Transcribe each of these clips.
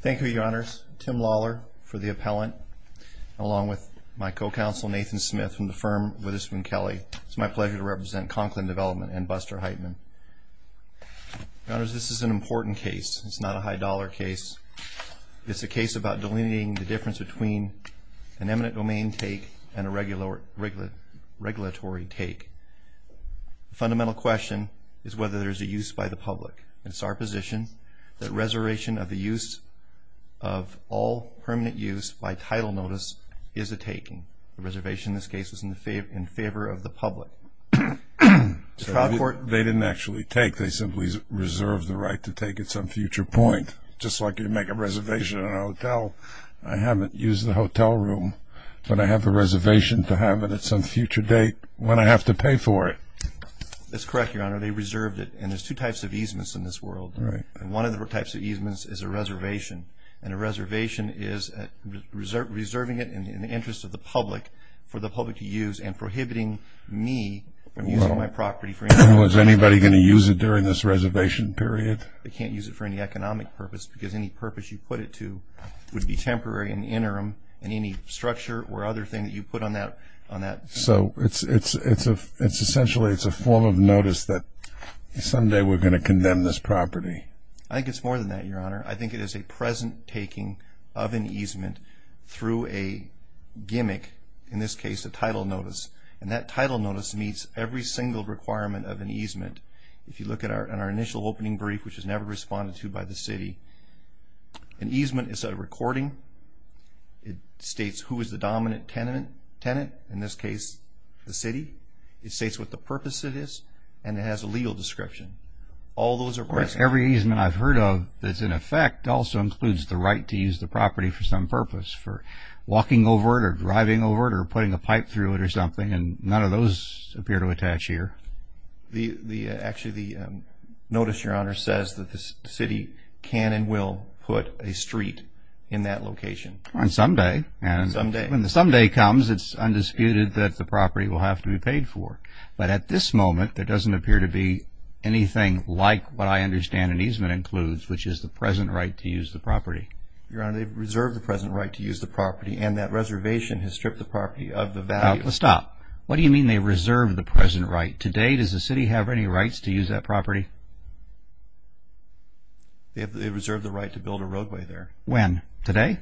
Thank you, Your Honors. Tim Lawler for the appellant, along with my co-counsel Nathan Smith from the firm Witherspoon Kelly. It's my pleasure to represent Konklin Development and Buster Heitman. Your Honors, this is an important case. It's not a high-dollar case. It's a case about delineating the difference between an eminent domain take and a regulatory take. The fundamental question is whether there's a use by the public. It's our position that reservation of the use of all permanent use by title notice is a taking. The reservation in this case is in favor of the public. The trial court… They didn't actually take. They simply reserved the right to take at some future point, just like you make a reservation in a hotel. I haven't used the hotel room, but I have the reservation to have it at some future date. When I have to pay for it. That's correct, Your Honor. They reserved it. And there's two types of easements in this world. One of the types of easements is a reservation. And a reservation is reserving it in the interest of the public for the public to use and prohibiting me from using my property for any purpose. Well, is anybody going to use it during this reservation period? They can't use it for any economic purpose because any purpose you put it to would be temporary in the interim and any structure or other thing that you put on that… So it's essentially a form of notice that someday we're going to condemn this property. I think it's more than that, Your Honor. I think it is a present taking of an easement through a gimmick, in this case a title notice. And that title notice meets every single requirement of an easement. If you look at our initial opening brief, which was never responded to by the city, an easement is a recording. It states who is the dominant tenant, in this case the city. It states what the purpose of this, and it has a legal description. All those are present. Every easement I've heard of that's in effect also includes the right to use the property for some purpose, for walking over it or driving over it or putting a pipe through it or something, and none of those appear to attach here. Actually, the notice, Your Honor, says that the city can and will put a street in that location. Someday. Someday. When the someday comes, it's undisputed that the property will have to be paid for. But at this moment, there doesn't appear to be anything like what I understand an easement includes, which is the present right to use the property. Your Honor, they've reserved the present right to use the property, and that reservation has stripped the property of the value… Stop. What do you mean they've reserved the present right? Today, does the city have any rights to use that property? They've reserved the right to build a roadway there. When? Today?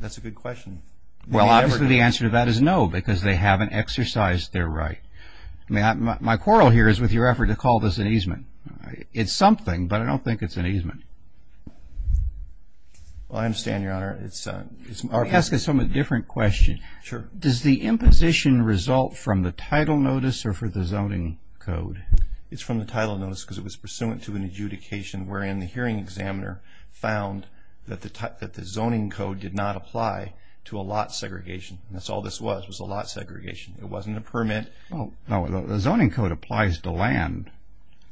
That's a good question. Well, obviously, the answer to that is no, because they haven't exercised their right. My quarrel here is with your effort to call this an easement. It's something, but I don't think it's an easement. Well, I understand, Your Honor. Let me ask a somewhat different question. Sure. Does the imposition result from the title notice or for the zoning code? It's from the title notice because it was pursuant to an adjudication, wherein the hearing examiner found that the zoning code did not apply to a lot segregation. That's all this was, was a lot segregation. It wasn't a permit. No, the zoning code applies to land.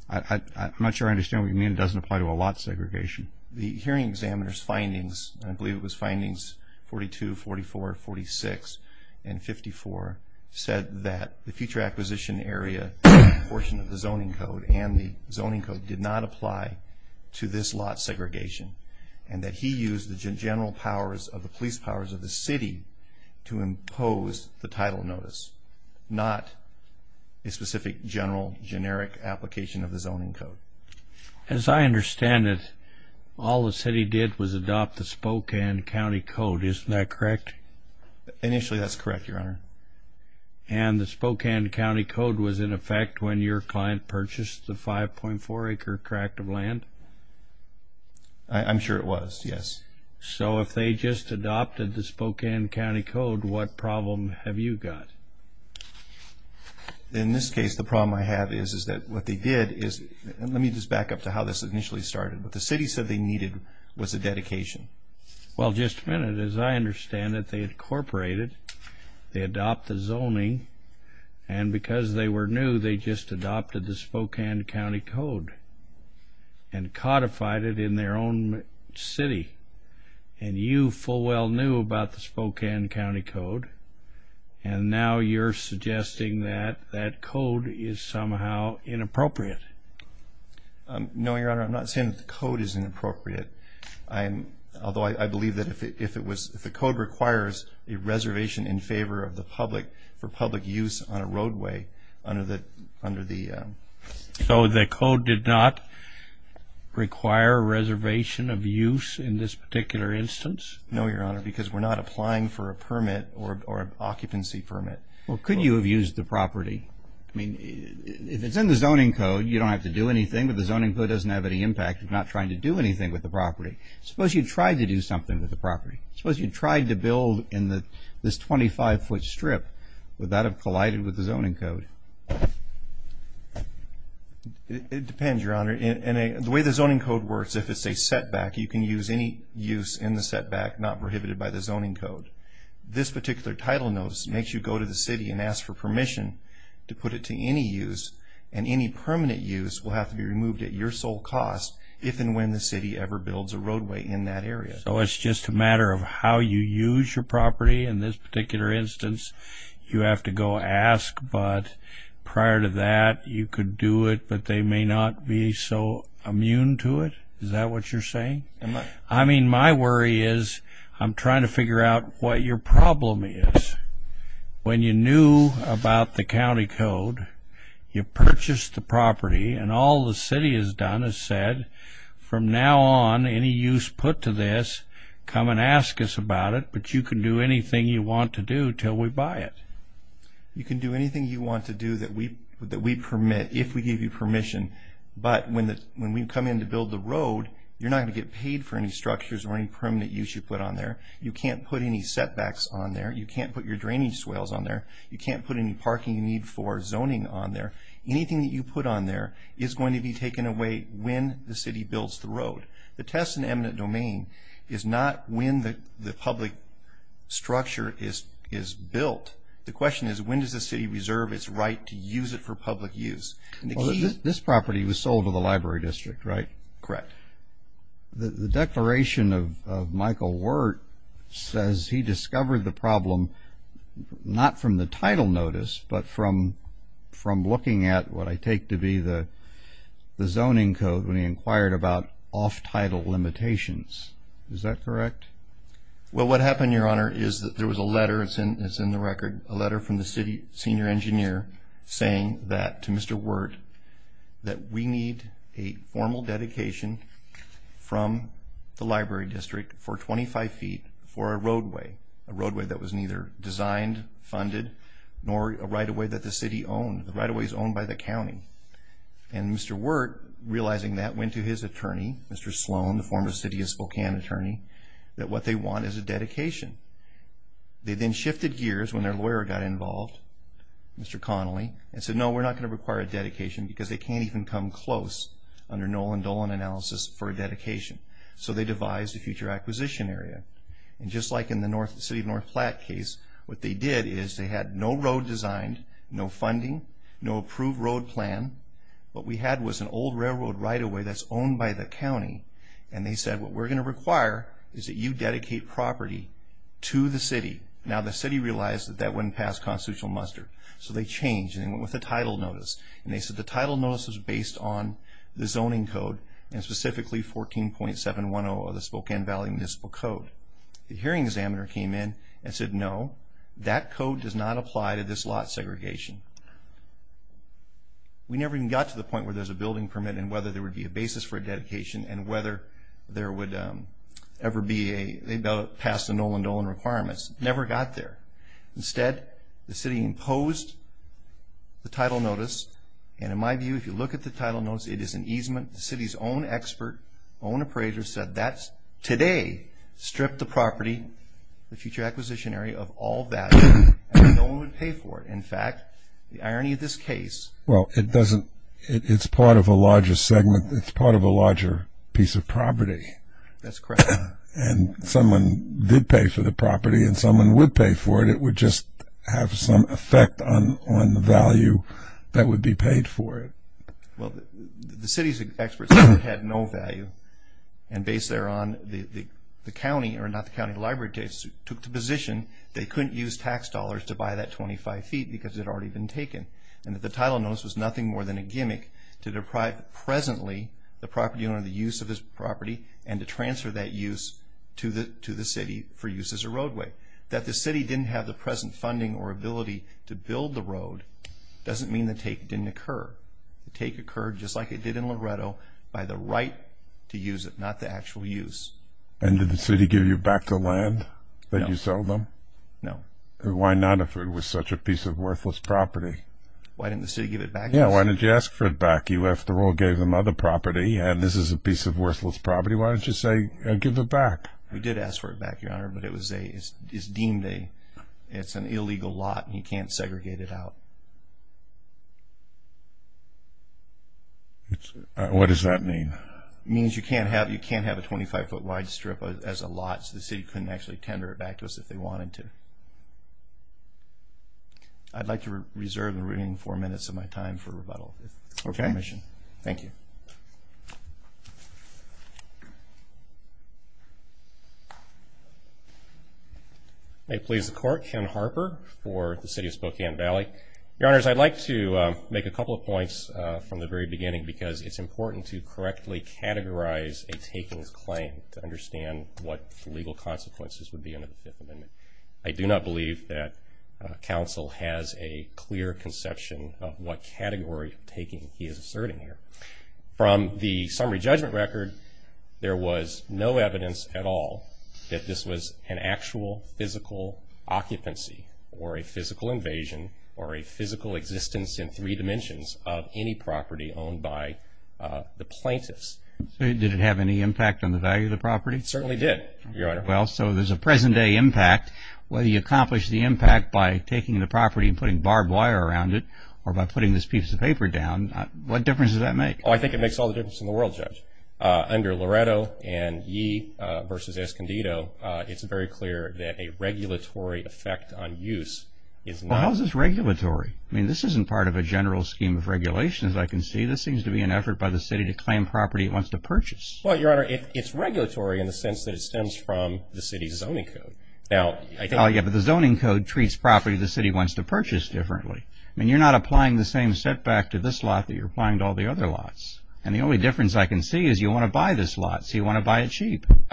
I'm not sure I understand what you mean it doesn't apply to a lot segregation. The hearing examiner's findings, I believe it was findings 42, 44, 46, and 54, said that the future acquisition area portion of the zoning code and the zoning code did not apply to this lot segregation and that he used the general powers of the police powers of the city to impose the title notice, not a specific general generic application of the zoning code. As I understand it, all the city did was adopt the Spokane County Code. Isn't that correct? Initially, that's correct, Your Honor. And the Spokane County Code was in effect when your client purchased the 5.4-acre tract of land? I'm sure it was, yes. So if they just adopted the Spokane County Code, what problem have you got? In this case, the problem I have is that what they did is, let me just back up to how this initially started. What the city said they needed was a dedication. Well, just a minute. As I understand it, they incorporated, they adopted the zoning, and because they were new, they just adopted the Spokane County Code and codified it in their own city. And you full well knew about the Spokane County Code and now you're suggesting that that code is somehow inappropriate. No, Your Honor. I'm not saying that the code is inappropriate, although I believe that if the code requires a reservation in favor of the public for public use on a roadway under the ‑‑ So the code did not require a reservation of use in this particular instance? No, Your Honor, because we're not applying for a permit or an occupancy permit. Well, could you have used the property? I mean, if it's in the zoning code, you don't have to do anything, but the zoning code doesn't have any impact if you're not trying to do anything with the property. Suppose you tried to do something with the property. Suppose you tried to build in this 25‑foot strip. Would that have collided with the zoning code? It depends, Your Honor. The way the zoning code works, if it's a setback, you can use any use in the setback not prohibited by the zoning code. This particular title notice makes you go to the city and ask for permission to put it to any use, and any permanent use will have to be removed at your sole cost if and when the city ever builds a roadway in that area. So it's just a matter of how you use your property in this particular instance? You have to go ask, but prior to that, you could do it, but they may not be so immune to it? Is that what you're saying? I mean, my worry is I'm trying to figure out what your problem is. When you knew about the county code, you purchased the property, and all the city has done is said, from now on, any use put to this, come and ask us about it, but you can do anything you want to do until we buy it. You can do anything you want to do that we permit if we give you permission, but when we come in to build the road, you're not going to get paid for any structures or any permanent use you put on there. You can't put any setbacks on there. You can't put your drainage swales on there. You can't put any parking you need for zoning on there. Anything that you put on there is going to be taken away when the city builds the road. The test and eminent domain is not when the public structure is built. The question is when does the city reserve its right to use it for public use? This property was sold to the library district, right? Correct. The declaration of Michael Wert says he discovered the problem not from the title notice, but from looking at what I take to be the zoning code when he inquired about off-title limitations. Is that correct? Well, what happened, Your Honor, is that there was a letter that's in the record, a letter from the city senior engineer saying that to Mr. Wert that we need a formal dedication from the library district for 25 feet for a roadway, a roadway that was neither designed, funded, nor a right-of-way that the city owned. The right-of-way is owned by the county. And Mr. Wert, realizing that, went to his attorney, Mr. Sloan, the former city of Spokane attorney, that what they want is a dedication. They then shifted gears when their lawyer got involved, Mr. Connelly, and said, no, we're not going to require a dedication because they can't even come close under Nolan Dolan analysis for a dedication. So they devised a future acquisition area. And just like in the city of North Platte case, what they did is they had no road designed, no funding, no approved road plan. What we had was an old railroad right-of-way that's owned by the county. And they said, what we're going to require is that you dedicate property to the city. Now, the city realized that that wouldn't pass constitutional muster. So they changed, and they went with a title notice. And they said the title notice was based on the zoning code, and specifically 14.710 of the Spokane Valley Municipal Code. The hearing examiner came in and said, no, that code does not apply to this lot segregation. We never even got to the point where there's a building permit and whether there would be a basis for a dedication and whether there would ever be a pass to Nolan Dolan requirements. Never got there. Instead, the city imposed the title notice. And in my view, if you look at the title notice, it is an easement. The city's own expert, own appraiser said that today stripped the property, the future acquisition area, of all value. And no one would pay for it. In fact, the irony of this case. Well, it doesn't – it's part of a larger segment. It's part of a larger piece of property. That's correct. And someone did pay for the property, and someone would pay for it. It would just have some effect on the value that would be paid for it. Well, the city's experts said it had no value. And based thereon, the county, or not the county, the library took the position they couldn't use tax dollars to buy that 25 feet because it had already been taken. And that the title notice was nothing more than a gimmick to deprive presently the property owner of the use of this property and to transfer that use to the city for use as a roadway. That the city didn't have the present funding or ability to build the road doesn't mean the take didn't occur. The take occurred, just like it did in Loretto, by the right to use it, not the actual use. And did the city give you back the land that you sold them? No. Why not if it was such a piece of worthless property? Why didn't the city give it back? Yeah, why didn't you ask for it back? You, after all, gave them other property, and this is a piece of worthless property. Why didn't you say give it back? We did ask for it back, Your Honor, but it's deemed an illegal lot, and you can't segregate it out. What does that mean? It means you can't have a 25-foot wide strip as a lot, so the city couldn't actually tender it back to us if they wanted to. I'd like to reserve the remaining four minutes of my time for rebuttal. Okay. Thank you. May it please the Court, Ken Harper for the City of Spokane Valley. Your Honors, I'd like to make a couple of points from the very beginning because it's important to correctly categorize a takings claim to understand what the legal consequences would be under the Fifth Amendment. I do not believe that counsel has a clear conception of what category of taking he is asserting here. From the summary judgment record, there was no evidence at all that this was an actual physical occupancy or a physical invasion or a physical existence in three dimensions of any property owned by the plaintiffs. Did it have any impact on the value of the property? It certainly did, Your Honor. Well, so there's a present-day impact. Whether you accomplish the impact by taking the property and putting barbed wire around it or by putting this piece of paper down, what difference does that make? Oh, I think it makes all the difference in the world, Judge. Under Loretto and Yee v. Escondido, it's very clear that a regulatory effect on use is not... Well, how is this regulatory? I mean, this isn't part of a general scheme of regulation, as I can see. This seems to be an effort by the city to claim property it wants to purchase. Well, Your Honor, it's regulatory in the sense that it stems from the city's zoning code. Now, I think... Oh, yeah, but the zoning code treats property the city wants to purchase differently. I mean, you're not applying the same setback to this lot that you're applying to all the other lots. And the only difference I can see is you want to buy this lot, so you want to buy it cheap. We don't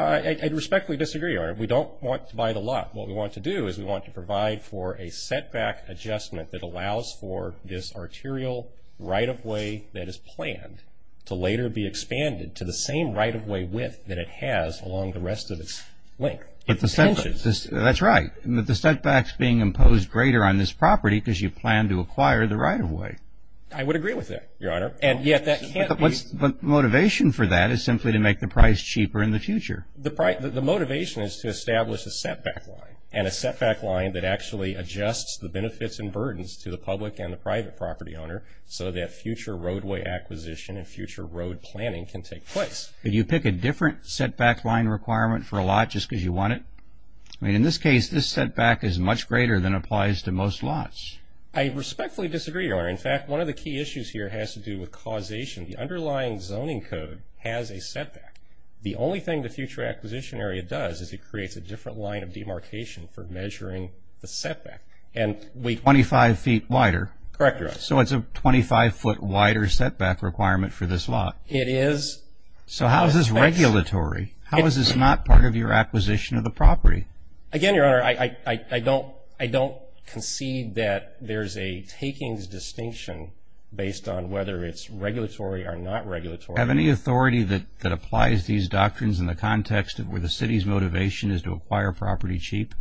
want to buy the lot. What we want to do is we want to provide for a setback adjustment that allows for this arterial right-of-way that is planned to later be expanded to the same right-of-way width that it has along the rest of its length. But the setback's being imposed greater on this property because you plan to acquire the right-of-way. I would agree with that, Your Honor, and yet that can't be... But the motivation for that is simply to make the price cheaper in the future. The motivation is to establish a setback line, and a setback line that actually adjusts the benefits and burdens to the public and the private property owner so that future roadway acquisition and future road planning can take place. But you pick a different setback line requirement for a lot just because you want it? I mean, in this case, this setback is much greater than applies to most lots. I respectfully disagree, Your Honor. In fact, one of the key issues here has to do with causation. The underlying zoning code has a setback. The only thing the future acquisition area does is it creates a different line of demarcation for measuring the setback. Twenty-five feet wider? Correct, Your Honor. So it's a 25-foot wider setback requirement for this lot? It is. So how is this regulatory? How is this not part of your acquisition of the property? Again, Your Honor, I don't concede that there's a takings distinction based on whether it's regulatory or not regulatory. Have any authority that applies these doctrines in the context of where the city's motivation is to acquire property cheap?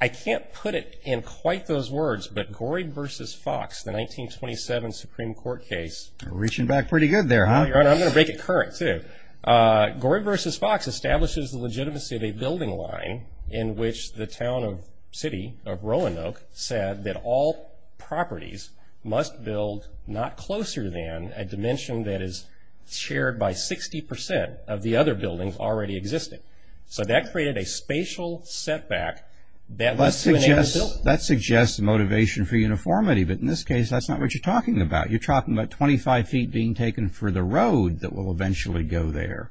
I can't put it in quite those words, but Gorey v. Fox, the 1927 Supreme Court case. We're reaching back pretty good there, huh? I'm going to make it current, too. Gorey v. Fox establishes the legitimacy of a building line in which the town of city, of Roanoke, said that all properties must build not closer than a dimension that is shared by 60% of the other buildings already existing. So that created a spatial setback. That suggests motivation for uniformity, but in this case that's not what you're talking about. You're talking about 25 feet being taken for the road that will eventually go there.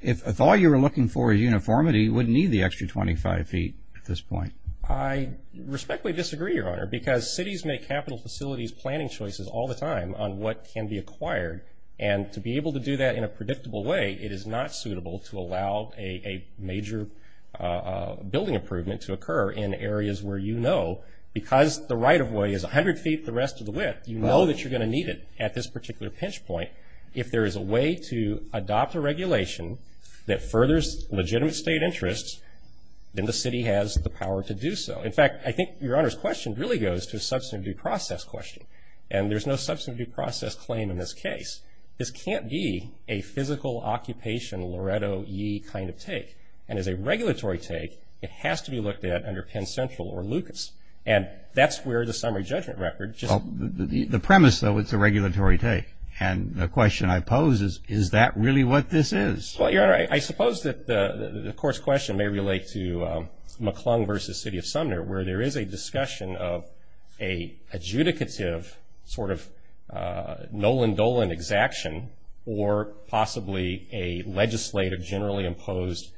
If all you were looking for is uniformity, you wouldn't need the extra 25 feet at this point. I respectfully disagree, Your Honor, because cities make capital facilities planning choices all the time on what can be acquired, and to be able to do that in a predictable way, it is not suitable to allow a major building improvement to occur in areas where you know, because the right-of-way is 100 feet the rest of the width, you know that you're going to need it at this particular pinch point. If there is a way to adopt a regulation that furthers legitimate state interests, then the city has the power to do so. In fact, I think Your Honor's question really goes to a substantive due process question, and there's no substantive due process claim in this case. This can't be a physical occupation Loretto-y kind of take, and as a regulatory take, it has to be looked at under Penn Central or Lucas, and that's where the summary judgment record just – the question I pose is, is that really what this is? Well, Your Honor, I suppose that the course question may relate to McClung v. City of Sumner, where there is a discussion of an adjudicative sort of Nolan-Dolan exaction, or possibly a legislative generally imposed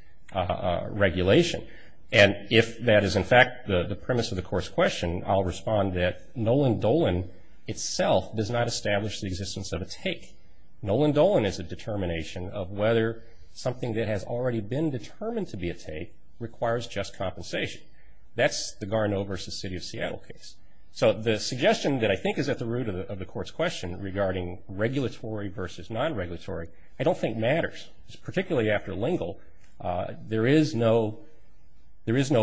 regulation, and if that is in fact the premise of the course question, I'll respond that Nolan-Dolan itself does not establish the existence of a take. Nolan-Dolan is a determination of whether something that has already been determined to be a take requires just compensation. That's the Garneau v. City of Seattle case. So the suggestion that I think is at the root of the court's question regarding regulatory v. non-regulatory, I don't think matters. Particularly after Lingle, there is no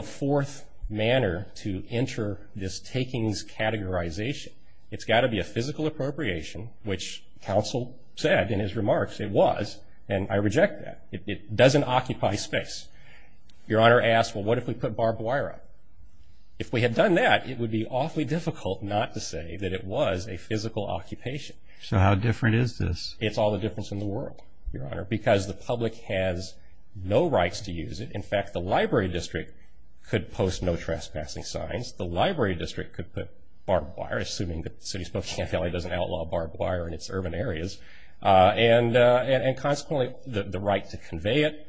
fourth manner to enter this takings categorization. It's got to be a physical appropriation, which counsel said in his remarks it was, and I reject that. It doesn't occupy space. Your Honor asked, well, what if we put barbed wire up? If we had done that, it would be awfully difficult not to say that it was a physical occupation. So how different is this? It's all the difference in the world, Your Honor, because the public has no rights to use it. In fact, the library district could post no trespassing signs. The library district could put barbed wire, assuming that the City of Spokane County doesn't outlaw barbed wire in its urban areas, and consequently the right to convey it,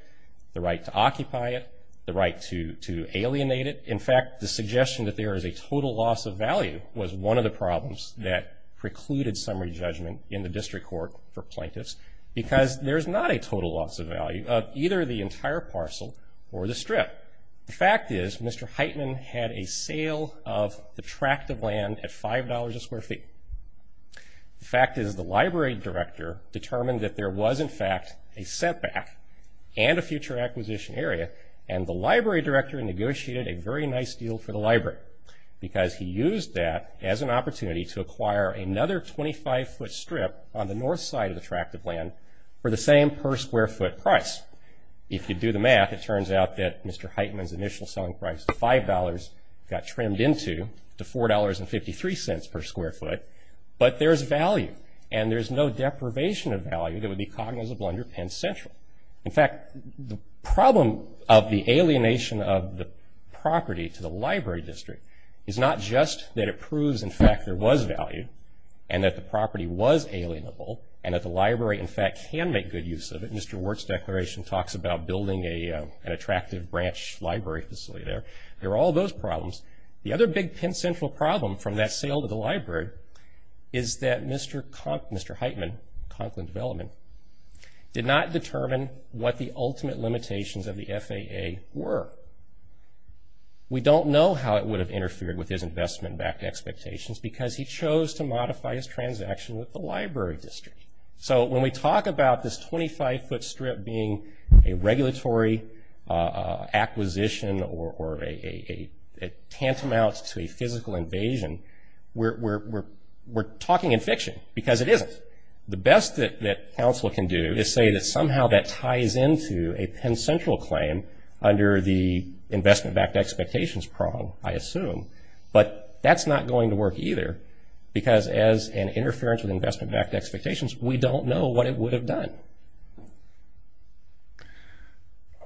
the right to occupy it, the right to alienate it. In fact, the suggestion that there is a total loss of value was one of the problems that precluded summary judgment in the district court for plaintiffs, because there's not a total loss of value of either the entire parcel or the strip. The fact is Mr. Heitman had a sale of the tract of land at $5 a square feet. The fact is the library director determined that there was, in fact, a setback and a future acquisition area, and the library director negotiated a very nice deal for the library, because he used that as an opportunity to acquire another 25-foot strip on the north side of the tract of land for the same per-square-foot price. If you do the math, it turns out that Mr. Heitman's initial selling price of $5 got trimmed into $4.53 per square foot, but there's value, and there's no deprivation of value that would be cognizable under Penn Central. In fact, the problem of the alienation of the property to the library district is not just that it proves, in fact, there was value and that the property was alienable and that the library, in fact, can make good use of it. Mr. Ward's declaration talks about building an attractive branch library facility there. There are all those problems. The other big Penn Central problem from that sale to the library is that Mr. Heitman, Conklin Development, did not determine what the ultimate limitations of the FAA were. We don't know how it would have interfered with his investment expectations because he chose to modify his transaction with the library district. So when we talk about this 25-foot strip being a regulatory acquisition or a tantamount to a physical invasion, we're talking in fiction because it isn't. The best that counsel can do is say that somehow that ties into a Penn Central claim under the investment-backed expectations problem, I assume, but that's not going to work either because as an interference with investment-backed expectations, we don't know what it would have done.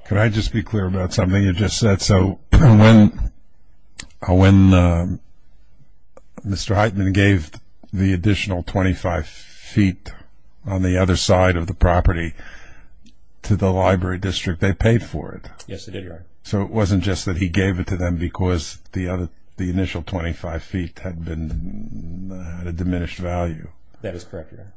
Can I just be clear about something you just said? So when Mr. Heitman gave the additional 25 feet on the other side of the property to the library district, they paid for it. Yes, they did, Your Honor. So it wasn't just that he gave it to them because the initial 25 feet had been at a diminished value. That is correct, Your Honor.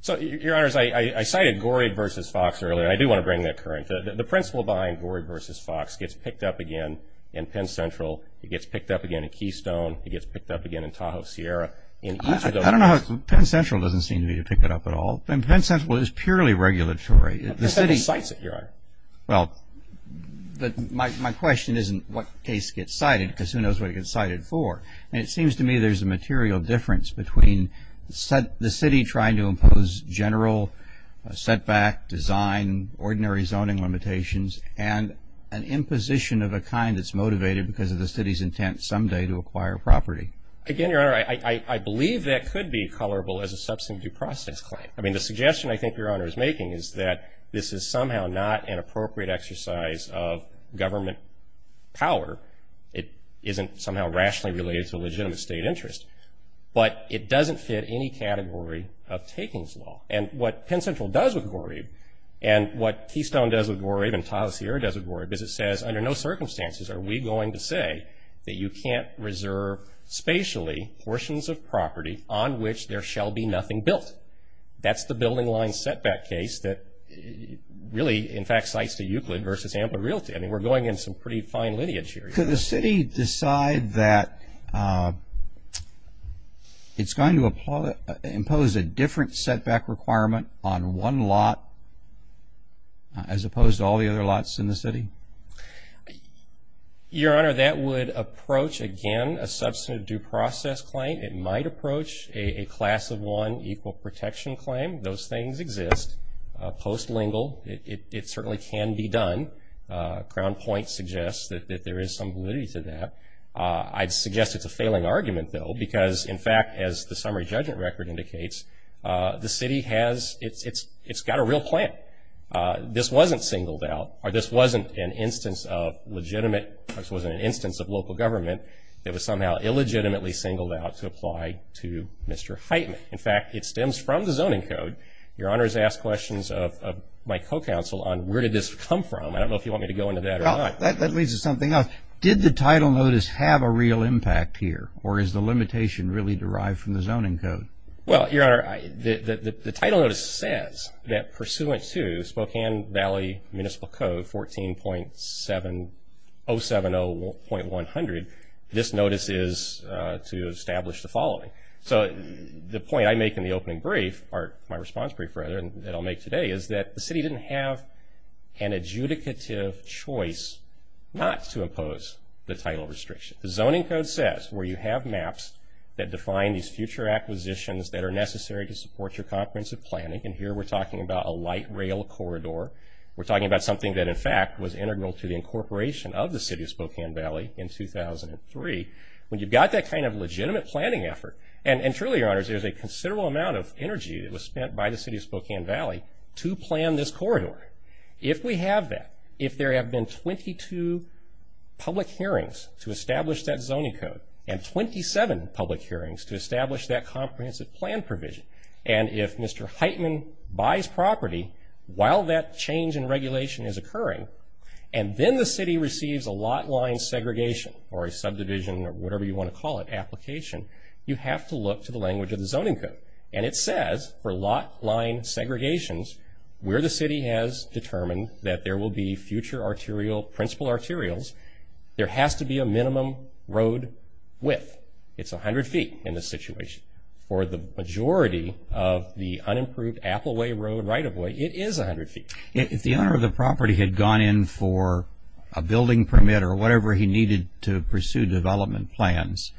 So, Your Honors, I cited Gorey v. Fox earlier. I do want to bring that current. The principle behind Gorey v. Fox gets picked up again in Penn Central. It gets picked up again in Keystone. It gets picked up again in Tahoe Sierra. I don't know how Penn Central doesn't seem to be picking it up at all. Penn Central is purely regulatory. The city cites it, Your Honor. Well, my question isn't what case gets cited because who knows what it gets cited for, and it seems to me there's a material difference between the city trying to impose general setback design, ordinary zoning limitations, and an imposition of a kind that's motivated because of the city's intent someday to acquire property. Again, Your Honor, I believe that could be colorable as a substantive due process claim. I mean, the suggestion I think Your Honor is making is that this is somehow not an appropriate exercise of government power. It isn't somehow rationally related to legitimate state interest. But it doesn't fit any category of takings law. And what Penn Central does with Goreeb and what Keystone does with Goreeb and Tahoe Sierra does with Goreeb is it says under no circumstances are we going to say that you can't reserve spatially portions of property on which there shall be nothing built. That's the building line setback case that really, in fact, cites the Euclid versus Amblin Realty. I mean, we're going in some pretty fine lineage here. But could the city decide that it's going to impose a different setback requirement on one lot as opposed to all the other lots in the city? Your Honor, that would approach, again, a substantive due process claim. It might approach a class of one equal protection claim. Those things exist post-lingual. It certainly can be done. Crown Point suggests that there is some validity to that. I'd suggest it's a failing argument, though, because, in fact, as the summary judgment record indicates, the city has, it's got a real plan. This wasn't singled out or this wasn't an instance of legitimate, this wasn't an instance of local government that was somehow illegitimately singled out to apply to Mr. Heitman. In fact, it stems from the zoning code. Your Honor has asked questions of my co-counsel on where did this come from. I don't know if you want me to go into that or not. That leads to something else. Did the title notice have a real impact here, or is the limitation really derived from the zoning code? Well, Your Honor, the title notice says that pursuant to Spokane Valley Municipal Code 14.070.100, this notice is to establish the following. So the point I make in the opening brief, or my response brief, rather, that I'll make today is that the city didn't have an adjudicative choice not to impose the title restriction. The zoning code says where you have maps that define these future acquisitions that are necessary to support your comprehensive planning, and here we're talking about a light rail corridor. We're talking about something that, in fact, was integral to the incorporation of the city of Spokane Valley in 2003. When you've got that kind of legitimate planning effort, and truly, Your Honors, there's a considerable amount of energy that was spent by the city of Spokane Valley to plan this corridor. If we have that, if there have been 22 public hearings to establish that zoning code and 27 public hearings to establish that comprehensive plan provision, and if Mr. Heitman buys property while that change in regulation is occurring, and then the city receives a lot line segregation, or a subdivision, or whatever you want to call it, application, you have to look to the language of the zoning code, and it says for lot line segregations, where the city has determined that there will be future arterial, principal arterials, there has to be a minimum road width. It's 100 feet in this situation. For the majority of the unimproved Apple Way Road right-of-way, it is 100 feet. If the owner of the property had gone in for a building permit or whatever he needed to pursue development plans,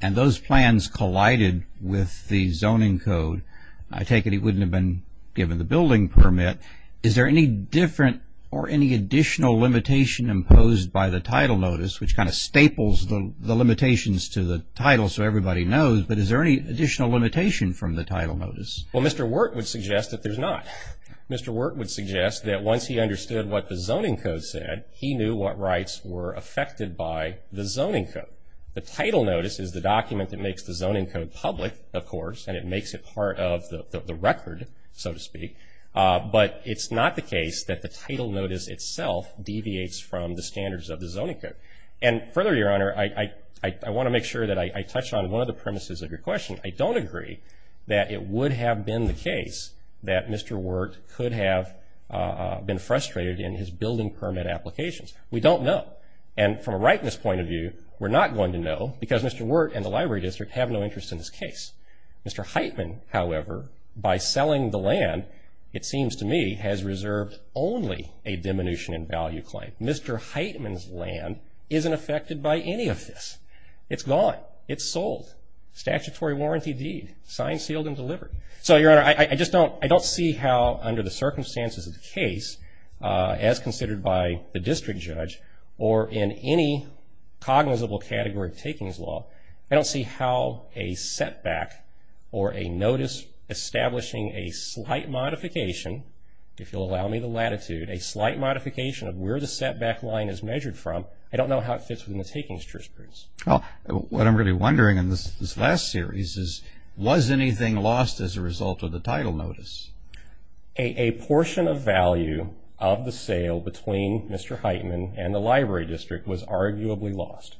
and those plans collided with the zoning code, I take it he wouldn't have been given the building permit. Is there any different or any additional limitation imposed by the title notice, which kind of staples the limitations to the title so everybody knows, but is there any additional limitation from the title notice? Well, Mr. Wert would suggest that there's not. Mr. Wert would suggest that once he understood what the zoning code said, he knew what rights were affected by the zoning code. The title notice is the document that makes the zoning code public, of course, and it makes it part of the record, so to speak, but it's not the case that the title notice itself deviates from the standards of the zoning code. And further, Your Honor, I want to make sure that I touch on one of the premises of your question. I don't agree that it would have been the case that Mr. Wert could have been frustrated in his building permit applications. We don't know, and from a rightness point of view, we're not going to know because Mr. Wert and the Library District have no interest in this case. Mr. Heitman, however, by selling the land, it seems to me, has reserved only a diminution in value claim. Mr. Heitman's land isn't affected by any of this. It's gone. It's sold. Statutory warranty deed, signed, sealed, and delivered. So, Your Honor, I just don't see how, under the circumstances of the case, as considered by the district judge or in any cognizable category of takings law, I don't see how a setback or a notice establishing a slight modification, if you'll allow me the latitude, a slight modification of where the setback line is measured from, I don't know how it fits within the takings jurisprudence. Well, what I'm really wondering in this last series is, was anything lost as a result of the title notice? A portion of value of the sale between Mr. Heitman and the Library District was arguably lost.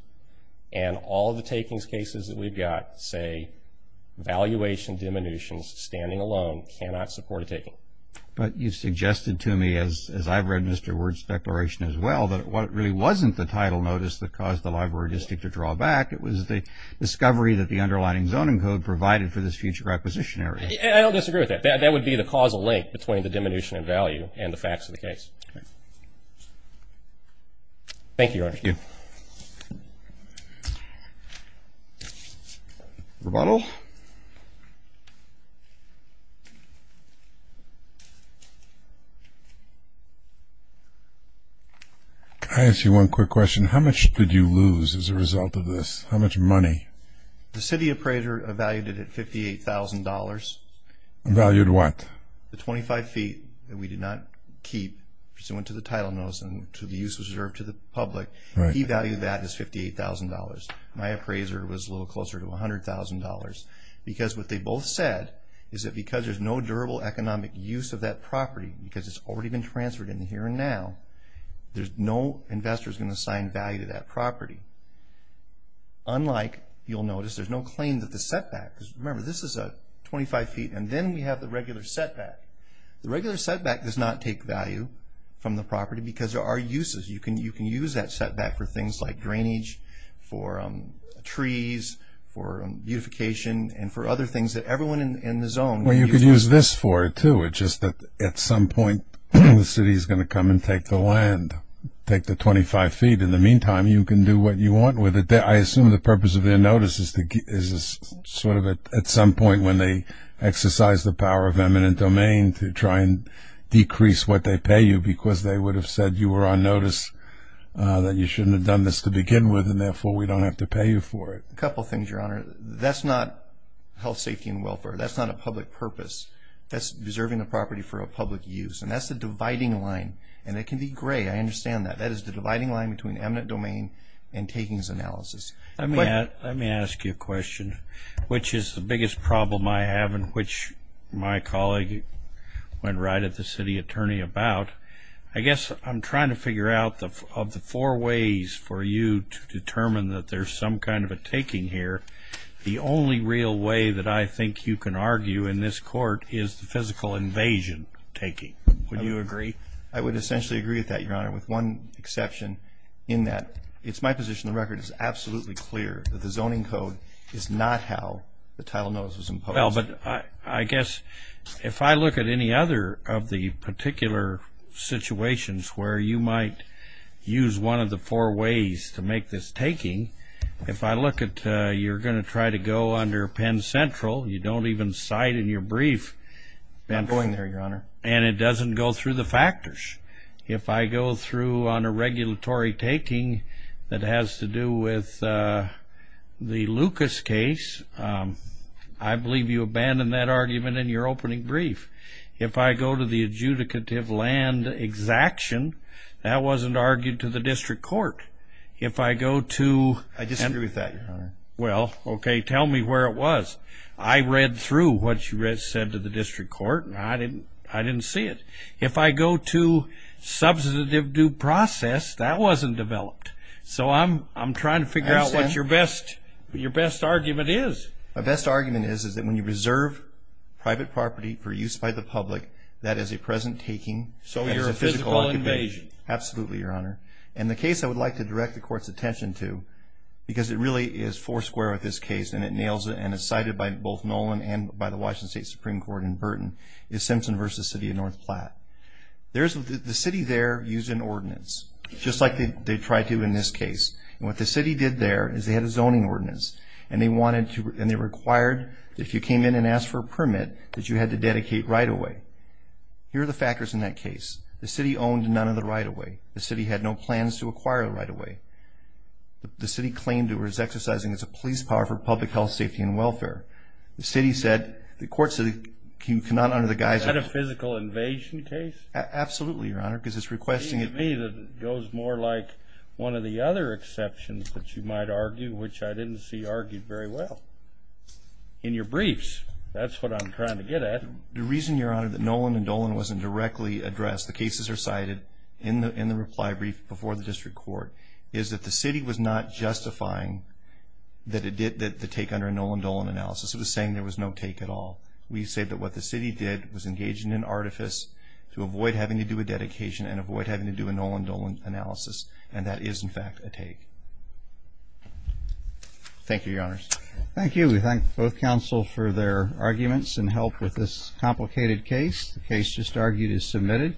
And all the takings cases that we've got say valuation diminutions, standing alone, cannot support a taking. But you suggested to me, as I've read Mr. Wert's declaration as well, that what really wasn't the title notice that caused the Library District to draw back, it was the discovery that the underlining zoning code provided for this future acquisition area. I don't disagree with that. That would be the causal link between the diminution in value and the facts of the case. Thank you, Your Honor. Thank you. Rebuttal. I ask you one quick question. How much did you lose as a result of this? How much money? The city appraiser evaluated it at $58,000. Evaluated what? The 25 feet that we did not keep pursuant to the title notice and to the use reserved to the public. He valued that as $58,000. My appraiser was a little closer to $100,000. Because what they both said is that because there's no durable economic use of that property, because it's already been transferred in the here and now, there's no investors going to assign value to that property. Unlike, you'll notice, there's no claim that the setback, because remember, this is a 25 feet, and then we have the regular setback. The regular setback does not take value from the property because there are uses. You can use that setback for things like drainage, for trees, for beautification, and for other things that everyone in the zone can use. Well, you could use this for it, too. It's just that at some point the city is going to come and take the land, take the 25 feet. In the meantime, you can do what you want with it. I assume the purpose of their notice is sort of at some point when they exercise the power of eminent domain to try and decrease what they pay you because they would have said you were on notice, that you shouldn't have done this to begin with, and therefore we don't have to pay you for it. A couple things, Your Honor. That's not health, safety, and welfare. That's not a public purpose. That's deserving the property for a public use. And that's the dividing line. And it can be gray. I understand that. That is the dividing line between eminent domain and takings analysis. Let me ask you a question, which is the biggest problem I have and which my colleague went right at the city attorney about. I guess I'm trying to figure out of the four ways for you to determine that there's some kind of a taking here, the only real way that I think you can argue in this court is the physical invasion taking. I would essentially agree with that, Your Honor. With one exception in that it's my position the record is absolutely clear that the zoning code is not how the title notice was imposed. Well, but I guess if I look at any other of the particular situations where you might use one of the four ways to make this taking, if I look at you're going to try to go under Penn Central, you don't even cite in your brief. I'm going there, Your Honor. And it doesn't go through the factors. If I go through on a regulatory taking that has to do with the Lucas case, I believe you abandoned that argument in your opening brief. If I go to the adjudicative land exaction, that wasn't argued to the district court. If I go to... I disagree with that, Your Honor. Well, okay, tell me where it was. I read through what you said to the district court, and I didn't see it. If I go to substantive due process, that wasn't developed. So I'm trying to figure out what your best argument is. My best argument is that when you reserve private property for use by the public, that is a present taking. So you're a physical invasion. Absolutely, Your Honor. And the case I would like to direct the Court's attention to, because it really is four square with this case, and it nails it, and it's cited by both Nolan and by the Washington State Supreme Court in Burton, is Simpson v. City of North Platte. The city there used an ordinance, just like they tried to in this case. And what the city did there is they had a zoning ordinance, and they required that if you came in and asked for a permit, that you had to dedicate right-of-way. Here are the factors in that case. The city owned none of the right-of-way. The city had no plans to acquire the right-of-way. safety, and welfare. The city said, the court said you cannot under the guise of – Is that a physical invasion case? Absolutely, Your Honor, because it's requesting – It seems to me that it goes more like one of the other exceptions that you might argue, which I didn't see argued very well in your briefs. That's what I'm trying to get at. The reason, Your Honor, that Nolan and Dolan wasn't directly addressed, the cases are cited in the reply brief before the district court, is that the city was not justifying the take under a Nolan-Dolan analysis. It was saying there was no take at all. We say that what the city did was engage in an artifice to avoid having to do a dedication and avoid having to do a Nolan-Dolan analysis, and that is, in fact, a take. Thank you, Your Honors. Thank you. We thank both counsel for their arguments and help with this complicated case. The case just argued is submitted.